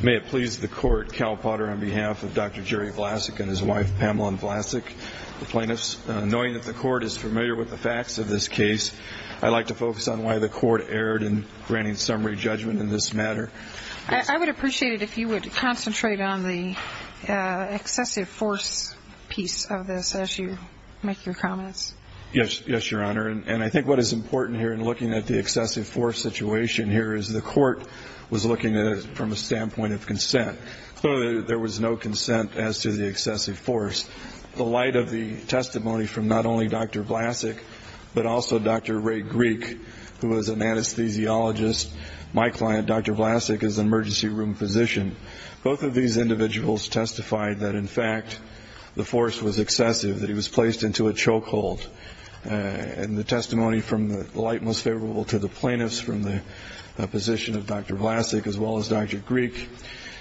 May it please the Court, Cal Potter, on behalf of Dr. Jerry Vlasak and his wife Pamela Vlasak, the plaintiffs, knowing that the Court is familiar with the facts of this case, I'd like to focus on why the Court erred in granting summary judgment in this matter. I would appreciate it if you would concentrate on the excessive force piece of this as you make your comments. Yes, Your Honor, and I think what is important here in looking at the excessive force situation here is the Court was looking at it from a standpoint of consent, so there was no consent as to the excessive force. The light of the testimony from not only Dr. Vlasak, but also Dr. Ray Greek, who was an anesthesiologist, my client Dr. Vlasak is an emergency room physician, both of these And the testimony from the light most favorable to the plaintiffs from the position of Dr. Vlasak as well as Dr. Greek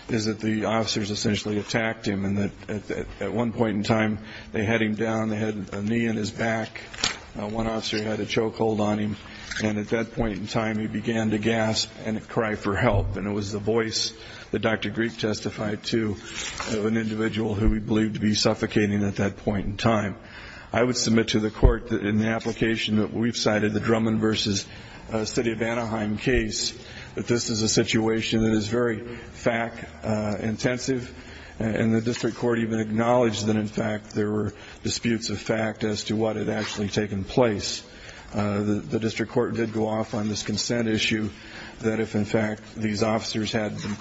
is that the officers essentially attacked him and that at one point in time they had him down, they had a knee in his back, one officer had a choke hold on him, and at that point in time he began to gasp and cry for help. And it was the voice that Dr. Greek testified to of an individual who he believed to be suffocating at that point in time. I would submit to the Court that in the application that we've cited, the Drummond v. City of Anaheim case, that this is a situation that is very fact-intensive, and the District Court even acknowledged that in fact there were disputes of fact as to what had actually taken place. The District Court did go off on this consent issue that if in fact these officers had been the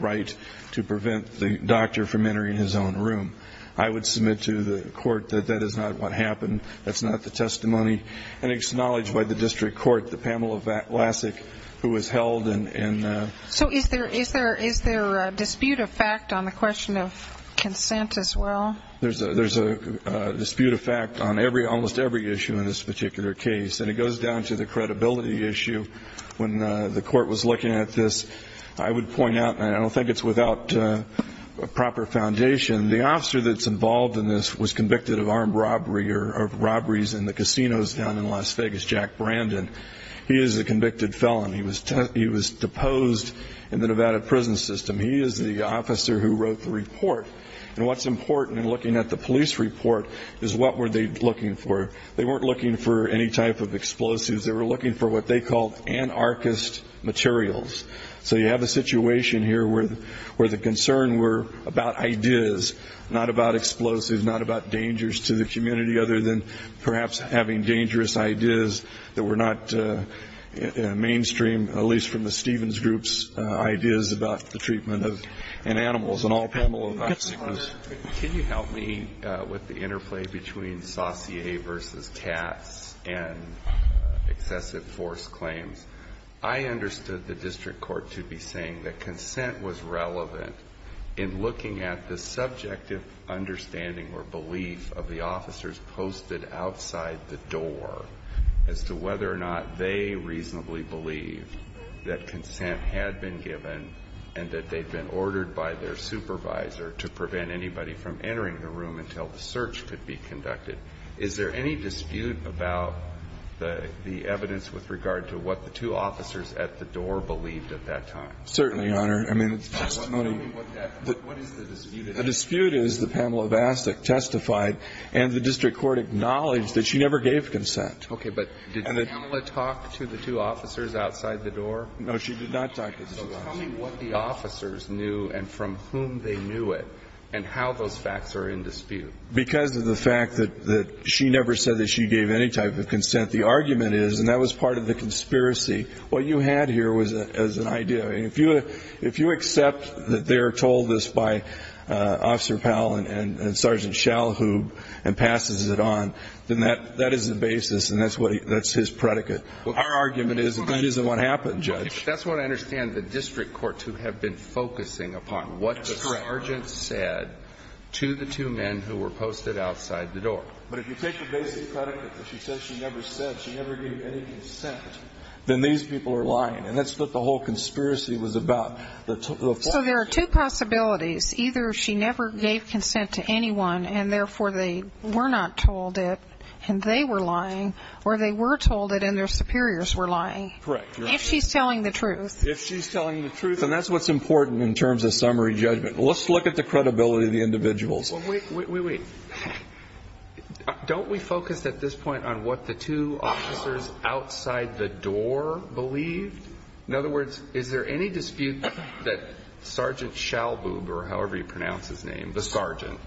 right to prevent the doctor from entering his own room. I would submit to the Court that that is not what happened, that's not the testimony, and it's acknowledged by the District Court that Pamela Vlasak, who was held in... So is there a dispute of fact on the question of consent as well? There's a dispute of fact on almost every issue in this particular case, and it goes down to the credibility issue. When the Court was looking at this, I would point out, and I don't think it's without a proper foundation, the officer that's involved in this was convicted of armed robbery or robberies in the casinos down in Las Vegas, Jack Brandon. He is a convicted felon. He was deposed in the Nevada prison system. He is the officer who wrote the report, and what's important in looking at the police report is what were they looking for. They weren't looking for any type of explosives. They were looking for what they called anarchist materials. So you have a situation here where the concern were about ideas, not about explosives, not about dangers to the community, other than perhaps having dangerous ideas that were not mainstream, at least from the Stevens Group's ideas about the treatment of animals and all Pamela Vlasak was... Can you help me with the interplay between saussure versus tats and excessive force claims? I understood the district court to be saying that consent was relevant in looking at the subjective understanding or belief of the officers posted outside the door as to whether or not they reasonably believed that consent had been given and that they'd been ordered by their supervisor to prevent anybody from entering the room until the search could be conducted. Is there any dispute about the evidence with regard to what the two officers at the door believed at that time? Certainly, Your Honor. I mean... What is the dispute? The dispute is that Pamela Vlasak testified and the district court acknowledged that she never gave consent. Okay. No. She did not talk to the two officers. So tell me what the officers knew and from whom they knew it and how those facts are in dispute. Because of the fact that she never said that she gave any type of consent, the argument is, and that was part of the conspiracy, what you had here was an idea. If you accept that they are told this by Officer Powell and Sergeant Schallhub and passes it on, then that is the basis and that's his predicate. Our argument is that that isn't what happened, Judge. That's what I understand the district courts who have been focusing upon, what the sergeant said to the two men who were posted outside the door. But if you take the basic predicate that she says she never said, she never gave any consent, then these people are lying. And that's what the whole conspiracy was about. So there are two possibilities, either she never gave consent to anyone and therefore they were not told it and they were lying, or they were told it and their superiors were lying. Correct. If she's telling the truth. If she's telling the truth. And that's what's important in terms of summary judgment. Let's look at the credibility of the individuals. Well, wait, wait, wait, wait. Don't we focus at this point on what the two officers outside the door believed? In other words, is there any dispute that Sergeant Schallhub, or however you pronounce his name, the sergeant,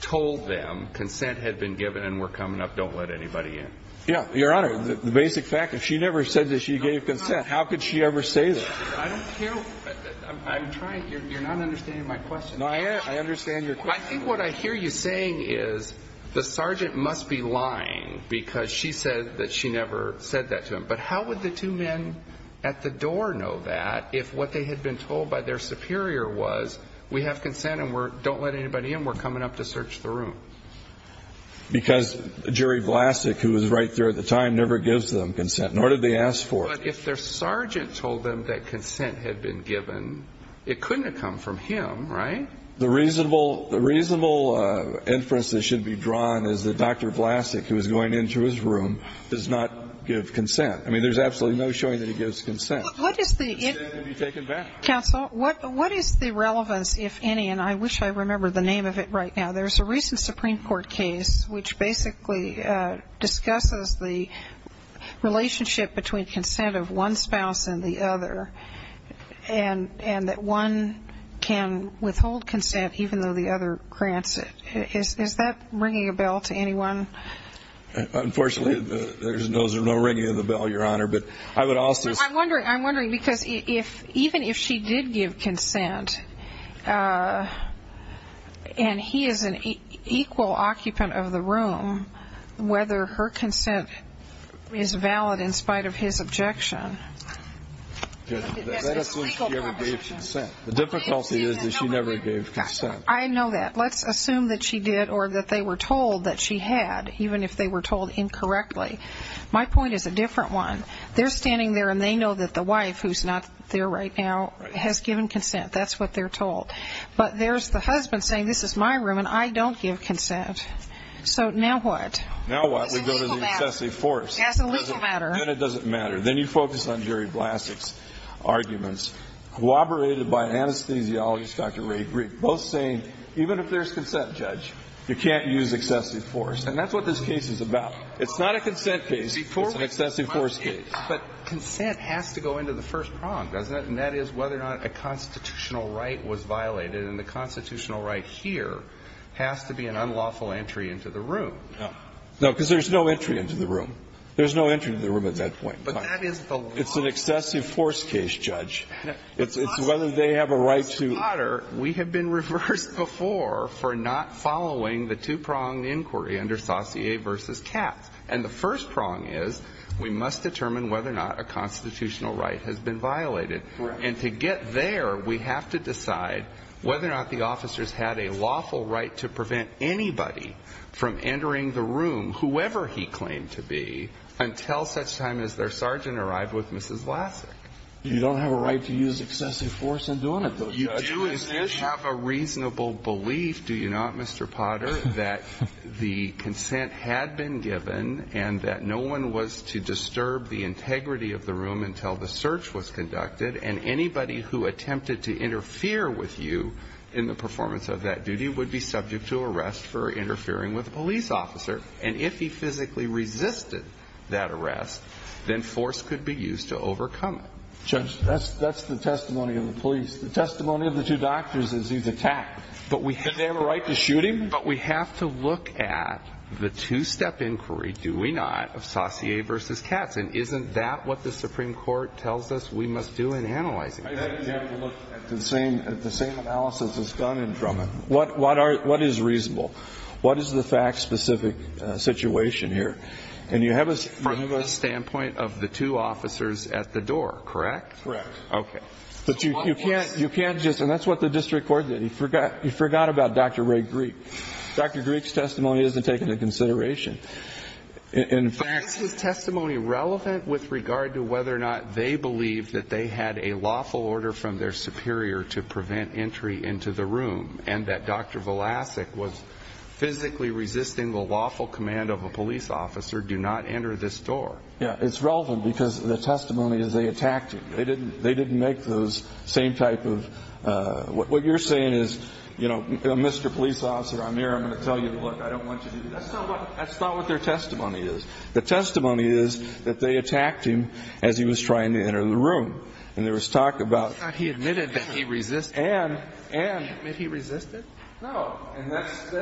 told them consent had been given and we're coming up, don't let anybody in? Yeah, Your Honor. The basic fact, if she never said that she gave consent, how could she ever say that? I don't care. I'm trying. You're not understanding my question. No, I understand your question. I think what I hear you saying is the sergeant must be lying because she said that she never said that to him. But how would the two men at the door know that if what they had been told by their superior was we have consent and we don't let anybody in, we're coming up to search the room? Because Jerry Vlasic, who was right there at the time, never gives them consent, nor did they ask for it. But if their sergeant told them that consent had been given, it couldn't have come from him, right? The reasonable inference that should be drawn is that Dr. Vlasic, who was going into his room, does not give consent. I mean, there's absolutely no showing that he gives consent. What is the... Consent can be taken back. Counsel, what is the relevance, if any, and I wish I remembered the name of it right now. There's a recent Supreme Court case which basically discusses the relationship between consent of one spouse and the other, and that one can withhold consent even though the other grants it. Is that ringing a bell to anyone? Unfortunately, there's no ringing of the bell, Your Honor, but I would also... I'm wondering, because even if she did give consent, and he is an equal occupant of the room, whether her consent is valid in spite of his objection... That's the least she ever gave consent. The difficulty is that she never gave consent. I know that. Let's assume that she did, or that they were told that she had, even if they were told incorrectly. My point is a different one. They're standing there, and they know that the wife, who's not there right now, has given consent. That's what they're told. But there's the husband saying, this is my room, and I don't give consent. So now what? Now what? We go to the excessive force. That's a legal matter. Then it doesn't matter. Then you focus on Jerry Blasik's arguments, corroborated by anesthesiologist Dr. Ray Greek, both saying, even if there's consent, Judge, you can't use excessive force, and that's what this case is about. It's not a consent case. It's an excessive force case. But consent has to go into the first prong, doesn't it? And that is whether or not a constitutional right was violated. And the constitutional right here has to be an unlawful entry into the room. No. No, because there's no entry into the room. There's no entry into the room at that point. But that is the law. It's an excessive force case, Judge. It's whether they have a right to... Mr. Potter, we have been reversed before for not following the two-prong inquiry under Saussure v. Katz. And the first prong is, we must determine whether or not a constitutional right has been violated. And to get there, we have to decide whether or not the officers had a lawful right to prevent anybody from entering the room, whoever he claimed to be, until such time as their sergeant arrived with Mrs. Blasik. You don't have a right to use excessive force in doing it, though, Judge. You do, instead, have a reasonable belief, do you not, Mr. Potter, that the consent had been given and that no one was to disturb the integrity of the room until the search was conducted, and anybody who attempted to interfere with you in the performance of that duty would be subject to arrest for interfering with a police officer. And if he physically resisted that arrest, then force could be used to overcome it. Judge, that's the testimony of the police. The testimony of the two doctors is he's attacked. But we have to look at the two-step inquiry, do we not, of Saussure v. Katz, and isn't that what the Supreme Court tells us we must do in analyzing it? I think we have to look at the same analysis as Gunn and Drummond. What is reasonable? What is the fact-specific situation here? And you have a standpoint of the two officers at the door, correct? Correct. Okay. But you can't just, and that's what the district court did, he forgot about Dr. Ray Greek. Dr. Greek's testimony isn't taken into consideration. In fact- Is his testimony relevant with regard to whether or not they believed that they had a lawful order from their superior to prevent entry into the room, and that Dr. Vlasic was physically resisting the lawful command of a police officer, do not enter this door? Yeah, it's relevant because the testimony is they attacked him. They didn't make those same type of, what you're saying is, you know, Mr. Police Officer, I'm here, I'm going to tell you to look, I don't want you to, that's not what their testimony is. The testimony is that they attacked him as he was trying to enter the room, and there was talk about- He admitted that he resisted. And- He admitted he resisted? No. And that's,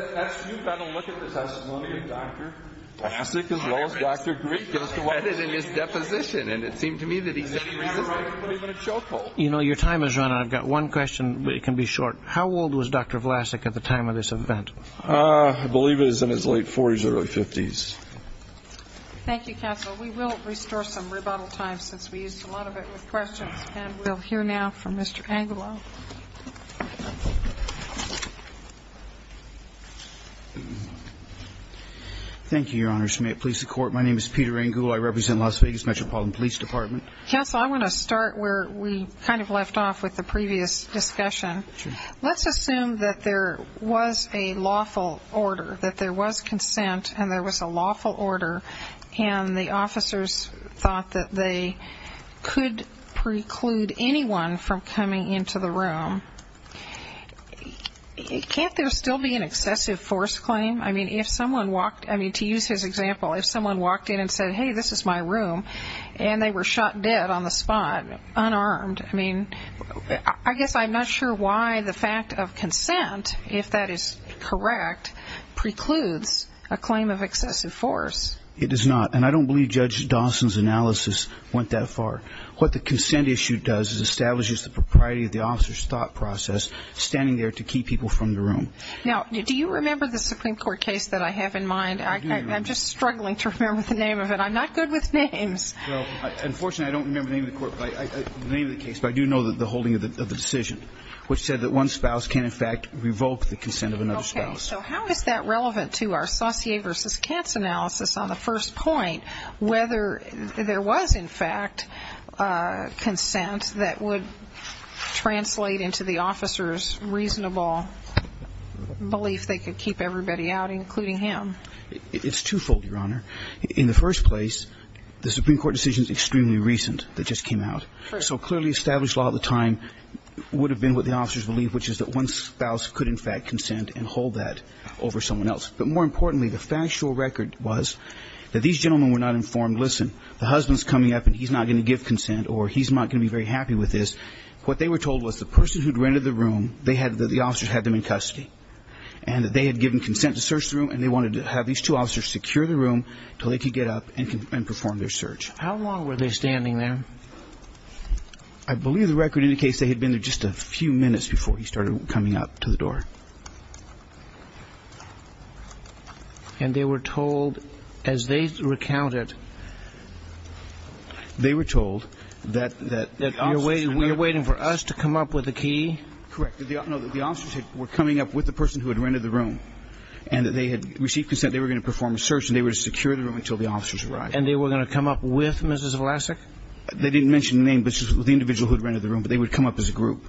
you've got to look at the testimony of Dr. Vlasic as well as Dr. Greek. He goes to edit in his deposition, and it seemed to me that he said he resisted, but even in chokehold. You know, your time has run out. I've got one question, but it can be short. How old was Dr. Vlasic at the time of this event? I believe it was in his late 40s, early 50s. Thank you, counsel. We will restore some rebuttal time since we used a lot of it with questions, and we'll hear now from Mr. Angelo. Thank you, Your Honor. May it please the Court. My name is Peter Angulo. I represent Las Vegas Metropolitan Police Department. Counsel, I want to start where we kind of left off with the previous discussion. Let's assume that there was a lawful order, that there was consent and there was a lawful order, and the officers thought that they could preclude anyone from coming into the room. Can't there still be an excessive force claim? I mean, to use his example, if someone walked in and said, hey, this is my room, and they were shot dead on the spot, unarmed, I mean, I guess I'm not sure why the fact of consent, if that is correct, precludes a claim of excessive force. It does not, and I don't believe Judge Dawson's analysis went that far. What the consent issue does is establishes the propriety of the officer's thought process standing there to keep people from the room. Now, do you remember the Supreme Court case that I have in mind? I'm just struggling to remember the name of it. I'm not good with names. Unfortunately, I don't remember the name of the case, but I do know the holding of the decision, which said that one spouse can, in fact, revoke the consent of another spouse. Okay, so how is that relevant to our Saussure v. Katz analysis on the first point, whether there was, in fact, consent that would translate into the officer's reasonable belief they could keep everybody out, including him? It's twofold, Your Honor. In the first place, the Supreme Court decision is extremely recent, it just came out. So clearly established law at the time would have been what the officers believed, which is that one spouse could, in fact, consent and hold that over someone else. But more importantly, the factual record was that these gentlemen were not informed, listen, the husband's coming up and he's not going to give consent or he's not going to be very happy with this. What they were told was the person who'd rented the room, the officers had them in custody, and that they had given consent to search the room and they wanted to have these two officers secure the room until they could get up and perform their search. How long were they standing there? I believe the record indicates they had been there just a few minutes before he started coming up to the door. And they were told, as they recounted... They were told that the officers... You're waiting for us to come up with a key? Correct. No, that the officers were coming up with the person who had rented the room, and that they had received consent, they were going to perform a search, and they were to secure the room until the officers arrived. And they were going to come up with Mrs. Vlasic? They didn't mention the name, but the individual who had rented the room, but they would come up as a group.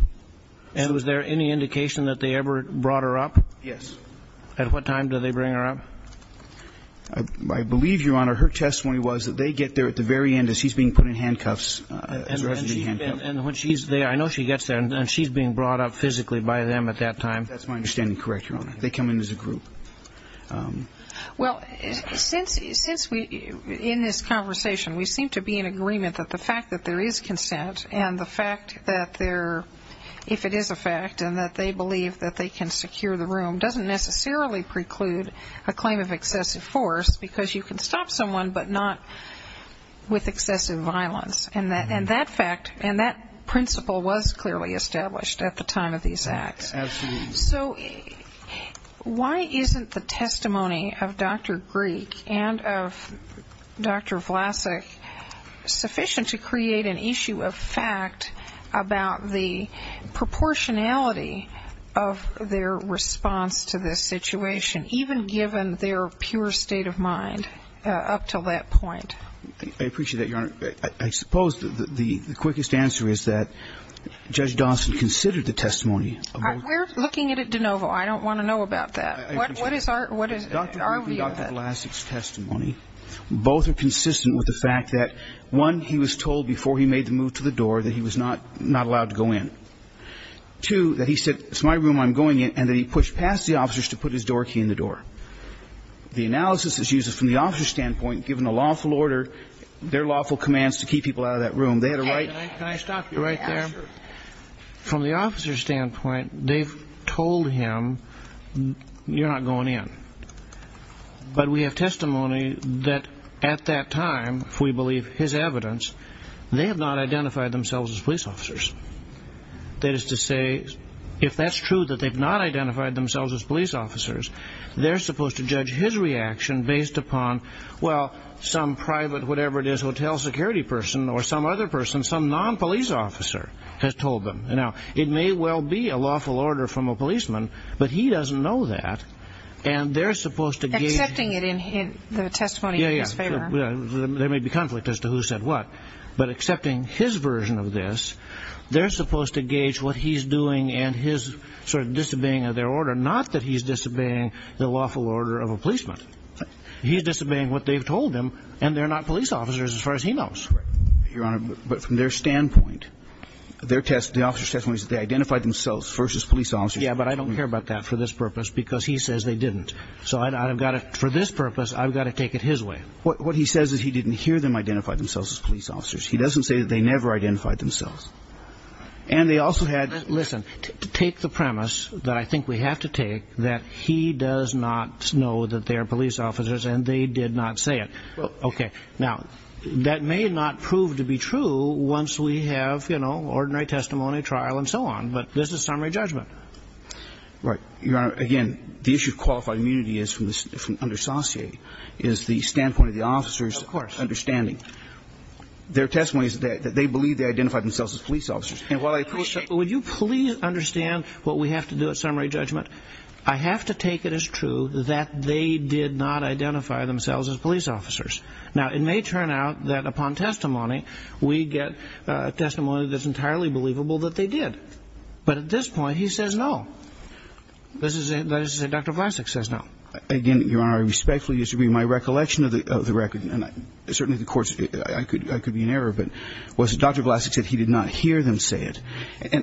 And was there any indication that they ever brought her up? Yes. At what time did they bring her up? I believe, Your Honor, her testimony was that they get there at the very end as she's being put in handcuffs. And when she's there, I know she gets there, and she's being brought up physically by them at that time. That's my understanding. Correct, Your Honor. They come in as a group. Well, since we, in this conversation, we seem to be in agreement that the fact that there is consent, and the fact that there, if it is a fact, and that they believe that they can secure the room doesn't necessarily preclude a claim of excessive force, because you can stop someone, but not with excessive violence. And that fact, and that principle was clearly established at the time of these acts. Absolutely. So why isn't the testimony of Dr. Greek and of Dr. Vlasic sufficient to create an issue of fact about the proportionality of their response to this situation, even given their pure state of mind up until that point? I appreciate that, Your Honor. I suppose the quickest answer is that Judge Dawson considered the testimony. We're looking at it de novo. I don't want to know about that. I appreciate that. What is our view of that? Dr. Greek and Dr. Vlasic's testimony, both are consistent with the fact that, one, he was told before he made the move to the door that he was not allowed to go in. Two, that he said, it's my room, I'm going in, and that he pushed past the officers to put his door key in the door. The analysis is used from the officer's standpoint, given a lawful order, their lawful commands to keep people out of that room. They had a right. Can I stop you right there? From the officer's standpoint, they've told him, you're not going in. But we have testimony that, at that time, if we believe his evidence, they have not identified themselves as police officers. That is to say, if that's true, that they've not identified themselves as police officers, they're supposed to judge his reaction based upon, well, some private whatever it is, hotel security person or some other person, some non-police officer, has told them. Now, it may well be a lawful order from a policeman, but he doesn't know that, and they're supposed to gauge... Accepting it in the testimony in his favor. Yeah, yeah. There may be conflict as to who said what, but accepting his version of this, they're supposed to gauge what he's doing and his sort of disobeying of their order, not that he's disobeying the lawful order of a policeman. He's disobeying what they've told him, and they're not police officers, as far as he knows. Right. Your Honor, but from their standpoint, their test, the officer's testimony says they identified themselves first as police officers. Yeah, but I don't care about that for this purpose, because he says they didn't. So I've got to, for this purpose, I've got to take it his way. What he says is he didn't hear them identify themselves as police officers. He doesn't say that they never identified themselves. And they also had... Listen, take the premise that I think we have to take, that he does not know that they are police officers, and they did not say it. Okay. Now, that may not prove to be true once we have, you know, ordinary testimony, trial, and so on. But this is summary judgment. Right. Your Honor, again, the issue of qualified immunity is from under saucier, is the standpoint of the officer's... Of course. ...understanding. Their testimony is that they believe they identified themselves as police officers. And while I... Would you please understand what we have to do at summary judgment? I have to take it as true that they did not identify themselves as police officers. Now, it may turn out that upon testimony, we get testimony that's entirely believable that they did. But at this point, he says no. This is a... Dr. Vlasic says no. Again, Your Honor, I respectfully disagree. My recollection of the record, and certainly the court's, I could be in error, but was that Dr. Vlasic said he did not hear them say it.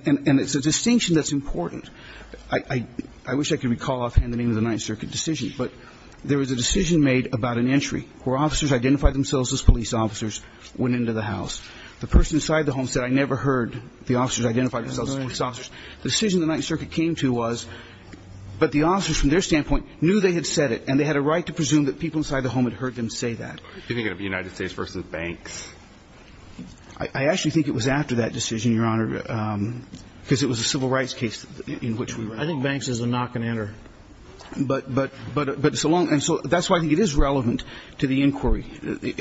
And it's a distinction that's important. I wish I could recall offhand the name of the Ninth Circuit decision, but there was a decision made about an entry where officers identified themselves as police officers went into the house. The person inside the home said, I never heard the officers identify themselves as police officers. The decision the Ninth Circuit came to was, but the officers from their standpoint knew they had said it, and they had a right to presume that people inside the home had heard them say that. Do you think it would be United States versus banks? I actually think it was after that decision, Your Honor, because it was a civil rights case in which we were. I think banks is a knock and enter. But it's a long... And so that's why I think it is relevant to the inquiry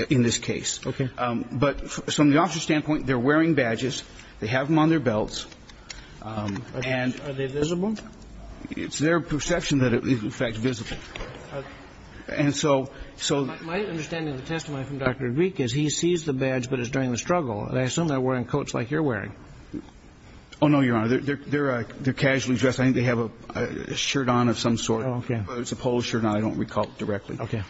in this case. Okay. But from the officer's standpoint, they're wearing badges. They have them on their belts. And... Are they visible? It's their perception that it is, in fact, visible. And so... My understanding of the testimony from Dr. Dweek is he sees the badge, but it's during the struggle. And I assume they're wearing coats like you're wearing. Oh, no, Your Honor. They're casually dressed. I think they have a shirt on of some sort. Oh, okay. Whether it's a polo shirt or not, I don't recall directly. Okay.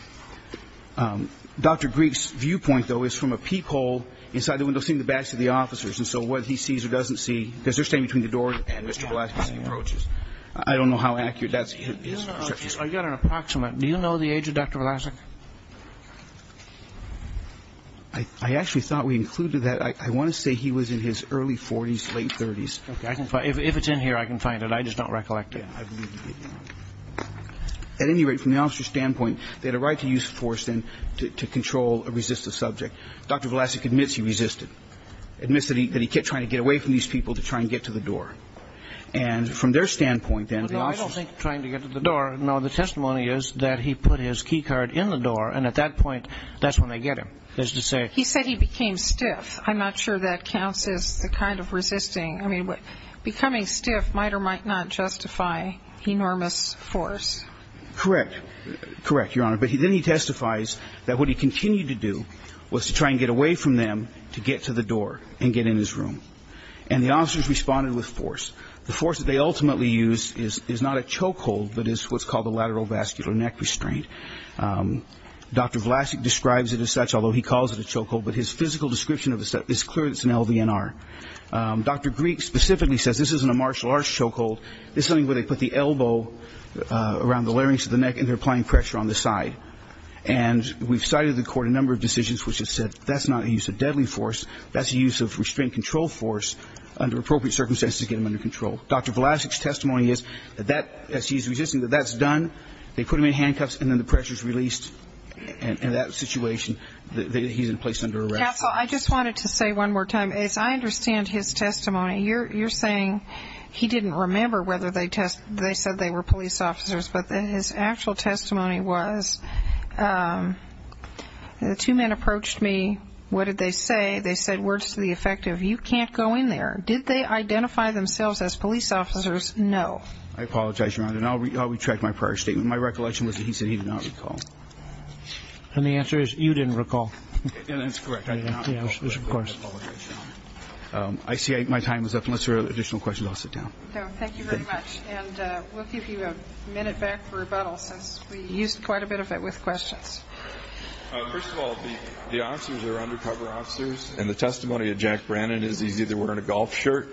Dr. Dweek's viewpoint, though, is from a peephole inside the window, seeing the badge of the officers. And so whether he sees or doesn't see... Because they're standing between the door and Mr. Vlasic as he approaches. I don't know how accurate that's his perception. I've got an approximate. Do you know the age of Dr. Vlasic? I actually thought we included that. I want to say he was in his early 40s, late 30s. Okay. If it's in here, I can find it. I just don't recollect it. Yeah. I believe you did. At any rate, from the officer's standpoint, they had a right to use force then to control or resist a subject. Dr. Vlasic admits he resisted, admits that he kept trying to get away from these people to try and get to the door. And from their standpoint, then, the officers... Well, no, I don't think trying to get to the door. No, the testimony is that he put his key card in the door, and at that point, that's when they get him. That is to say... He said he became stiff. I'm not sure that counts as the kind of resisting. I mean, becoming stiff might or might not justify enormous force. Correct. Correct, Your Honor. But then he testifies that what he continued to do was to try and get away from them to get to the door and get in his room. And the officers responded with force. The force that they ultimately used is not a chokehold, but is what's called a lateral vascular neck restraint. Dr. Vlasic describes it as such, although he calls it a chokehold, but his physical description of it is clear that it's an LVNR. Dr. Greek specifically says this isn't a martial arts chokehold. This is something where they put the elbow around the larynx of the neck, and they're applying pressure on the side. And we've cited in the court a number of decisions which have said that's not a use of deadly force. That's a use of restraint control force under appropriate circumstances to get him under control. Dr. Vlasic's testimony is that that, as he's resisting, that that's done. They put him in handcuffs, and then the pressure's released, and in that situation, he's placed under arrest. I just wanted to say one more time, as I understand his testimony, you're saying he didn't remember whether they said they were police officers, but his actual testimony was, the two men approached me, what did they say? They said words to the effect of, you can't go in there. Did they identify themselves as police officers? No. I apologize, Your Honor. And I'll retract my prior statement. My recollection was that he said he did not recall. And the answer is, you didn't recall. That's correct. I see my time is up. Unless there are additional questions, I'll sit down. Thank you very much. And we'll give you a minute back for rebuttal, since we used quite a bit of it with questions. First of all, the officers are undercover officers, and the testimony of Jack Brannan is he's either wearing a golf shirt,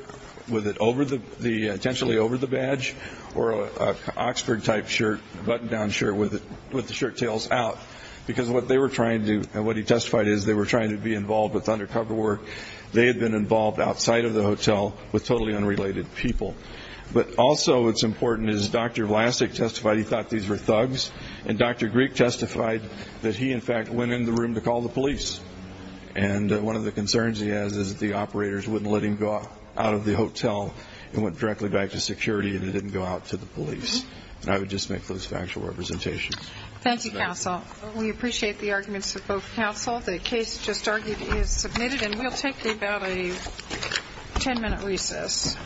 with it over the, intentionally over the badge, or an Oxford-type shirt, button-down shirt, with the shirt tails out. Because what they were trying to, what he testified is, they were trying to be involved with undercover work. They had been involved outside of the hotel with totally unrelated people. But also, it's important, as Dr. Vlasic testified, he thought these were thugs. And Dr. Greek testified that he, in fact, went in the room to call the police. And one of the concerns he has is that the operators wouldn't let him go out of the hotel and went directly back to security, and he didn't go out to the police. And I would just make those factual representations. Thank you, counsel. We appreciate the arguments of both counsel. The case just argued is submitted, and we'll take about a ten-minute recess.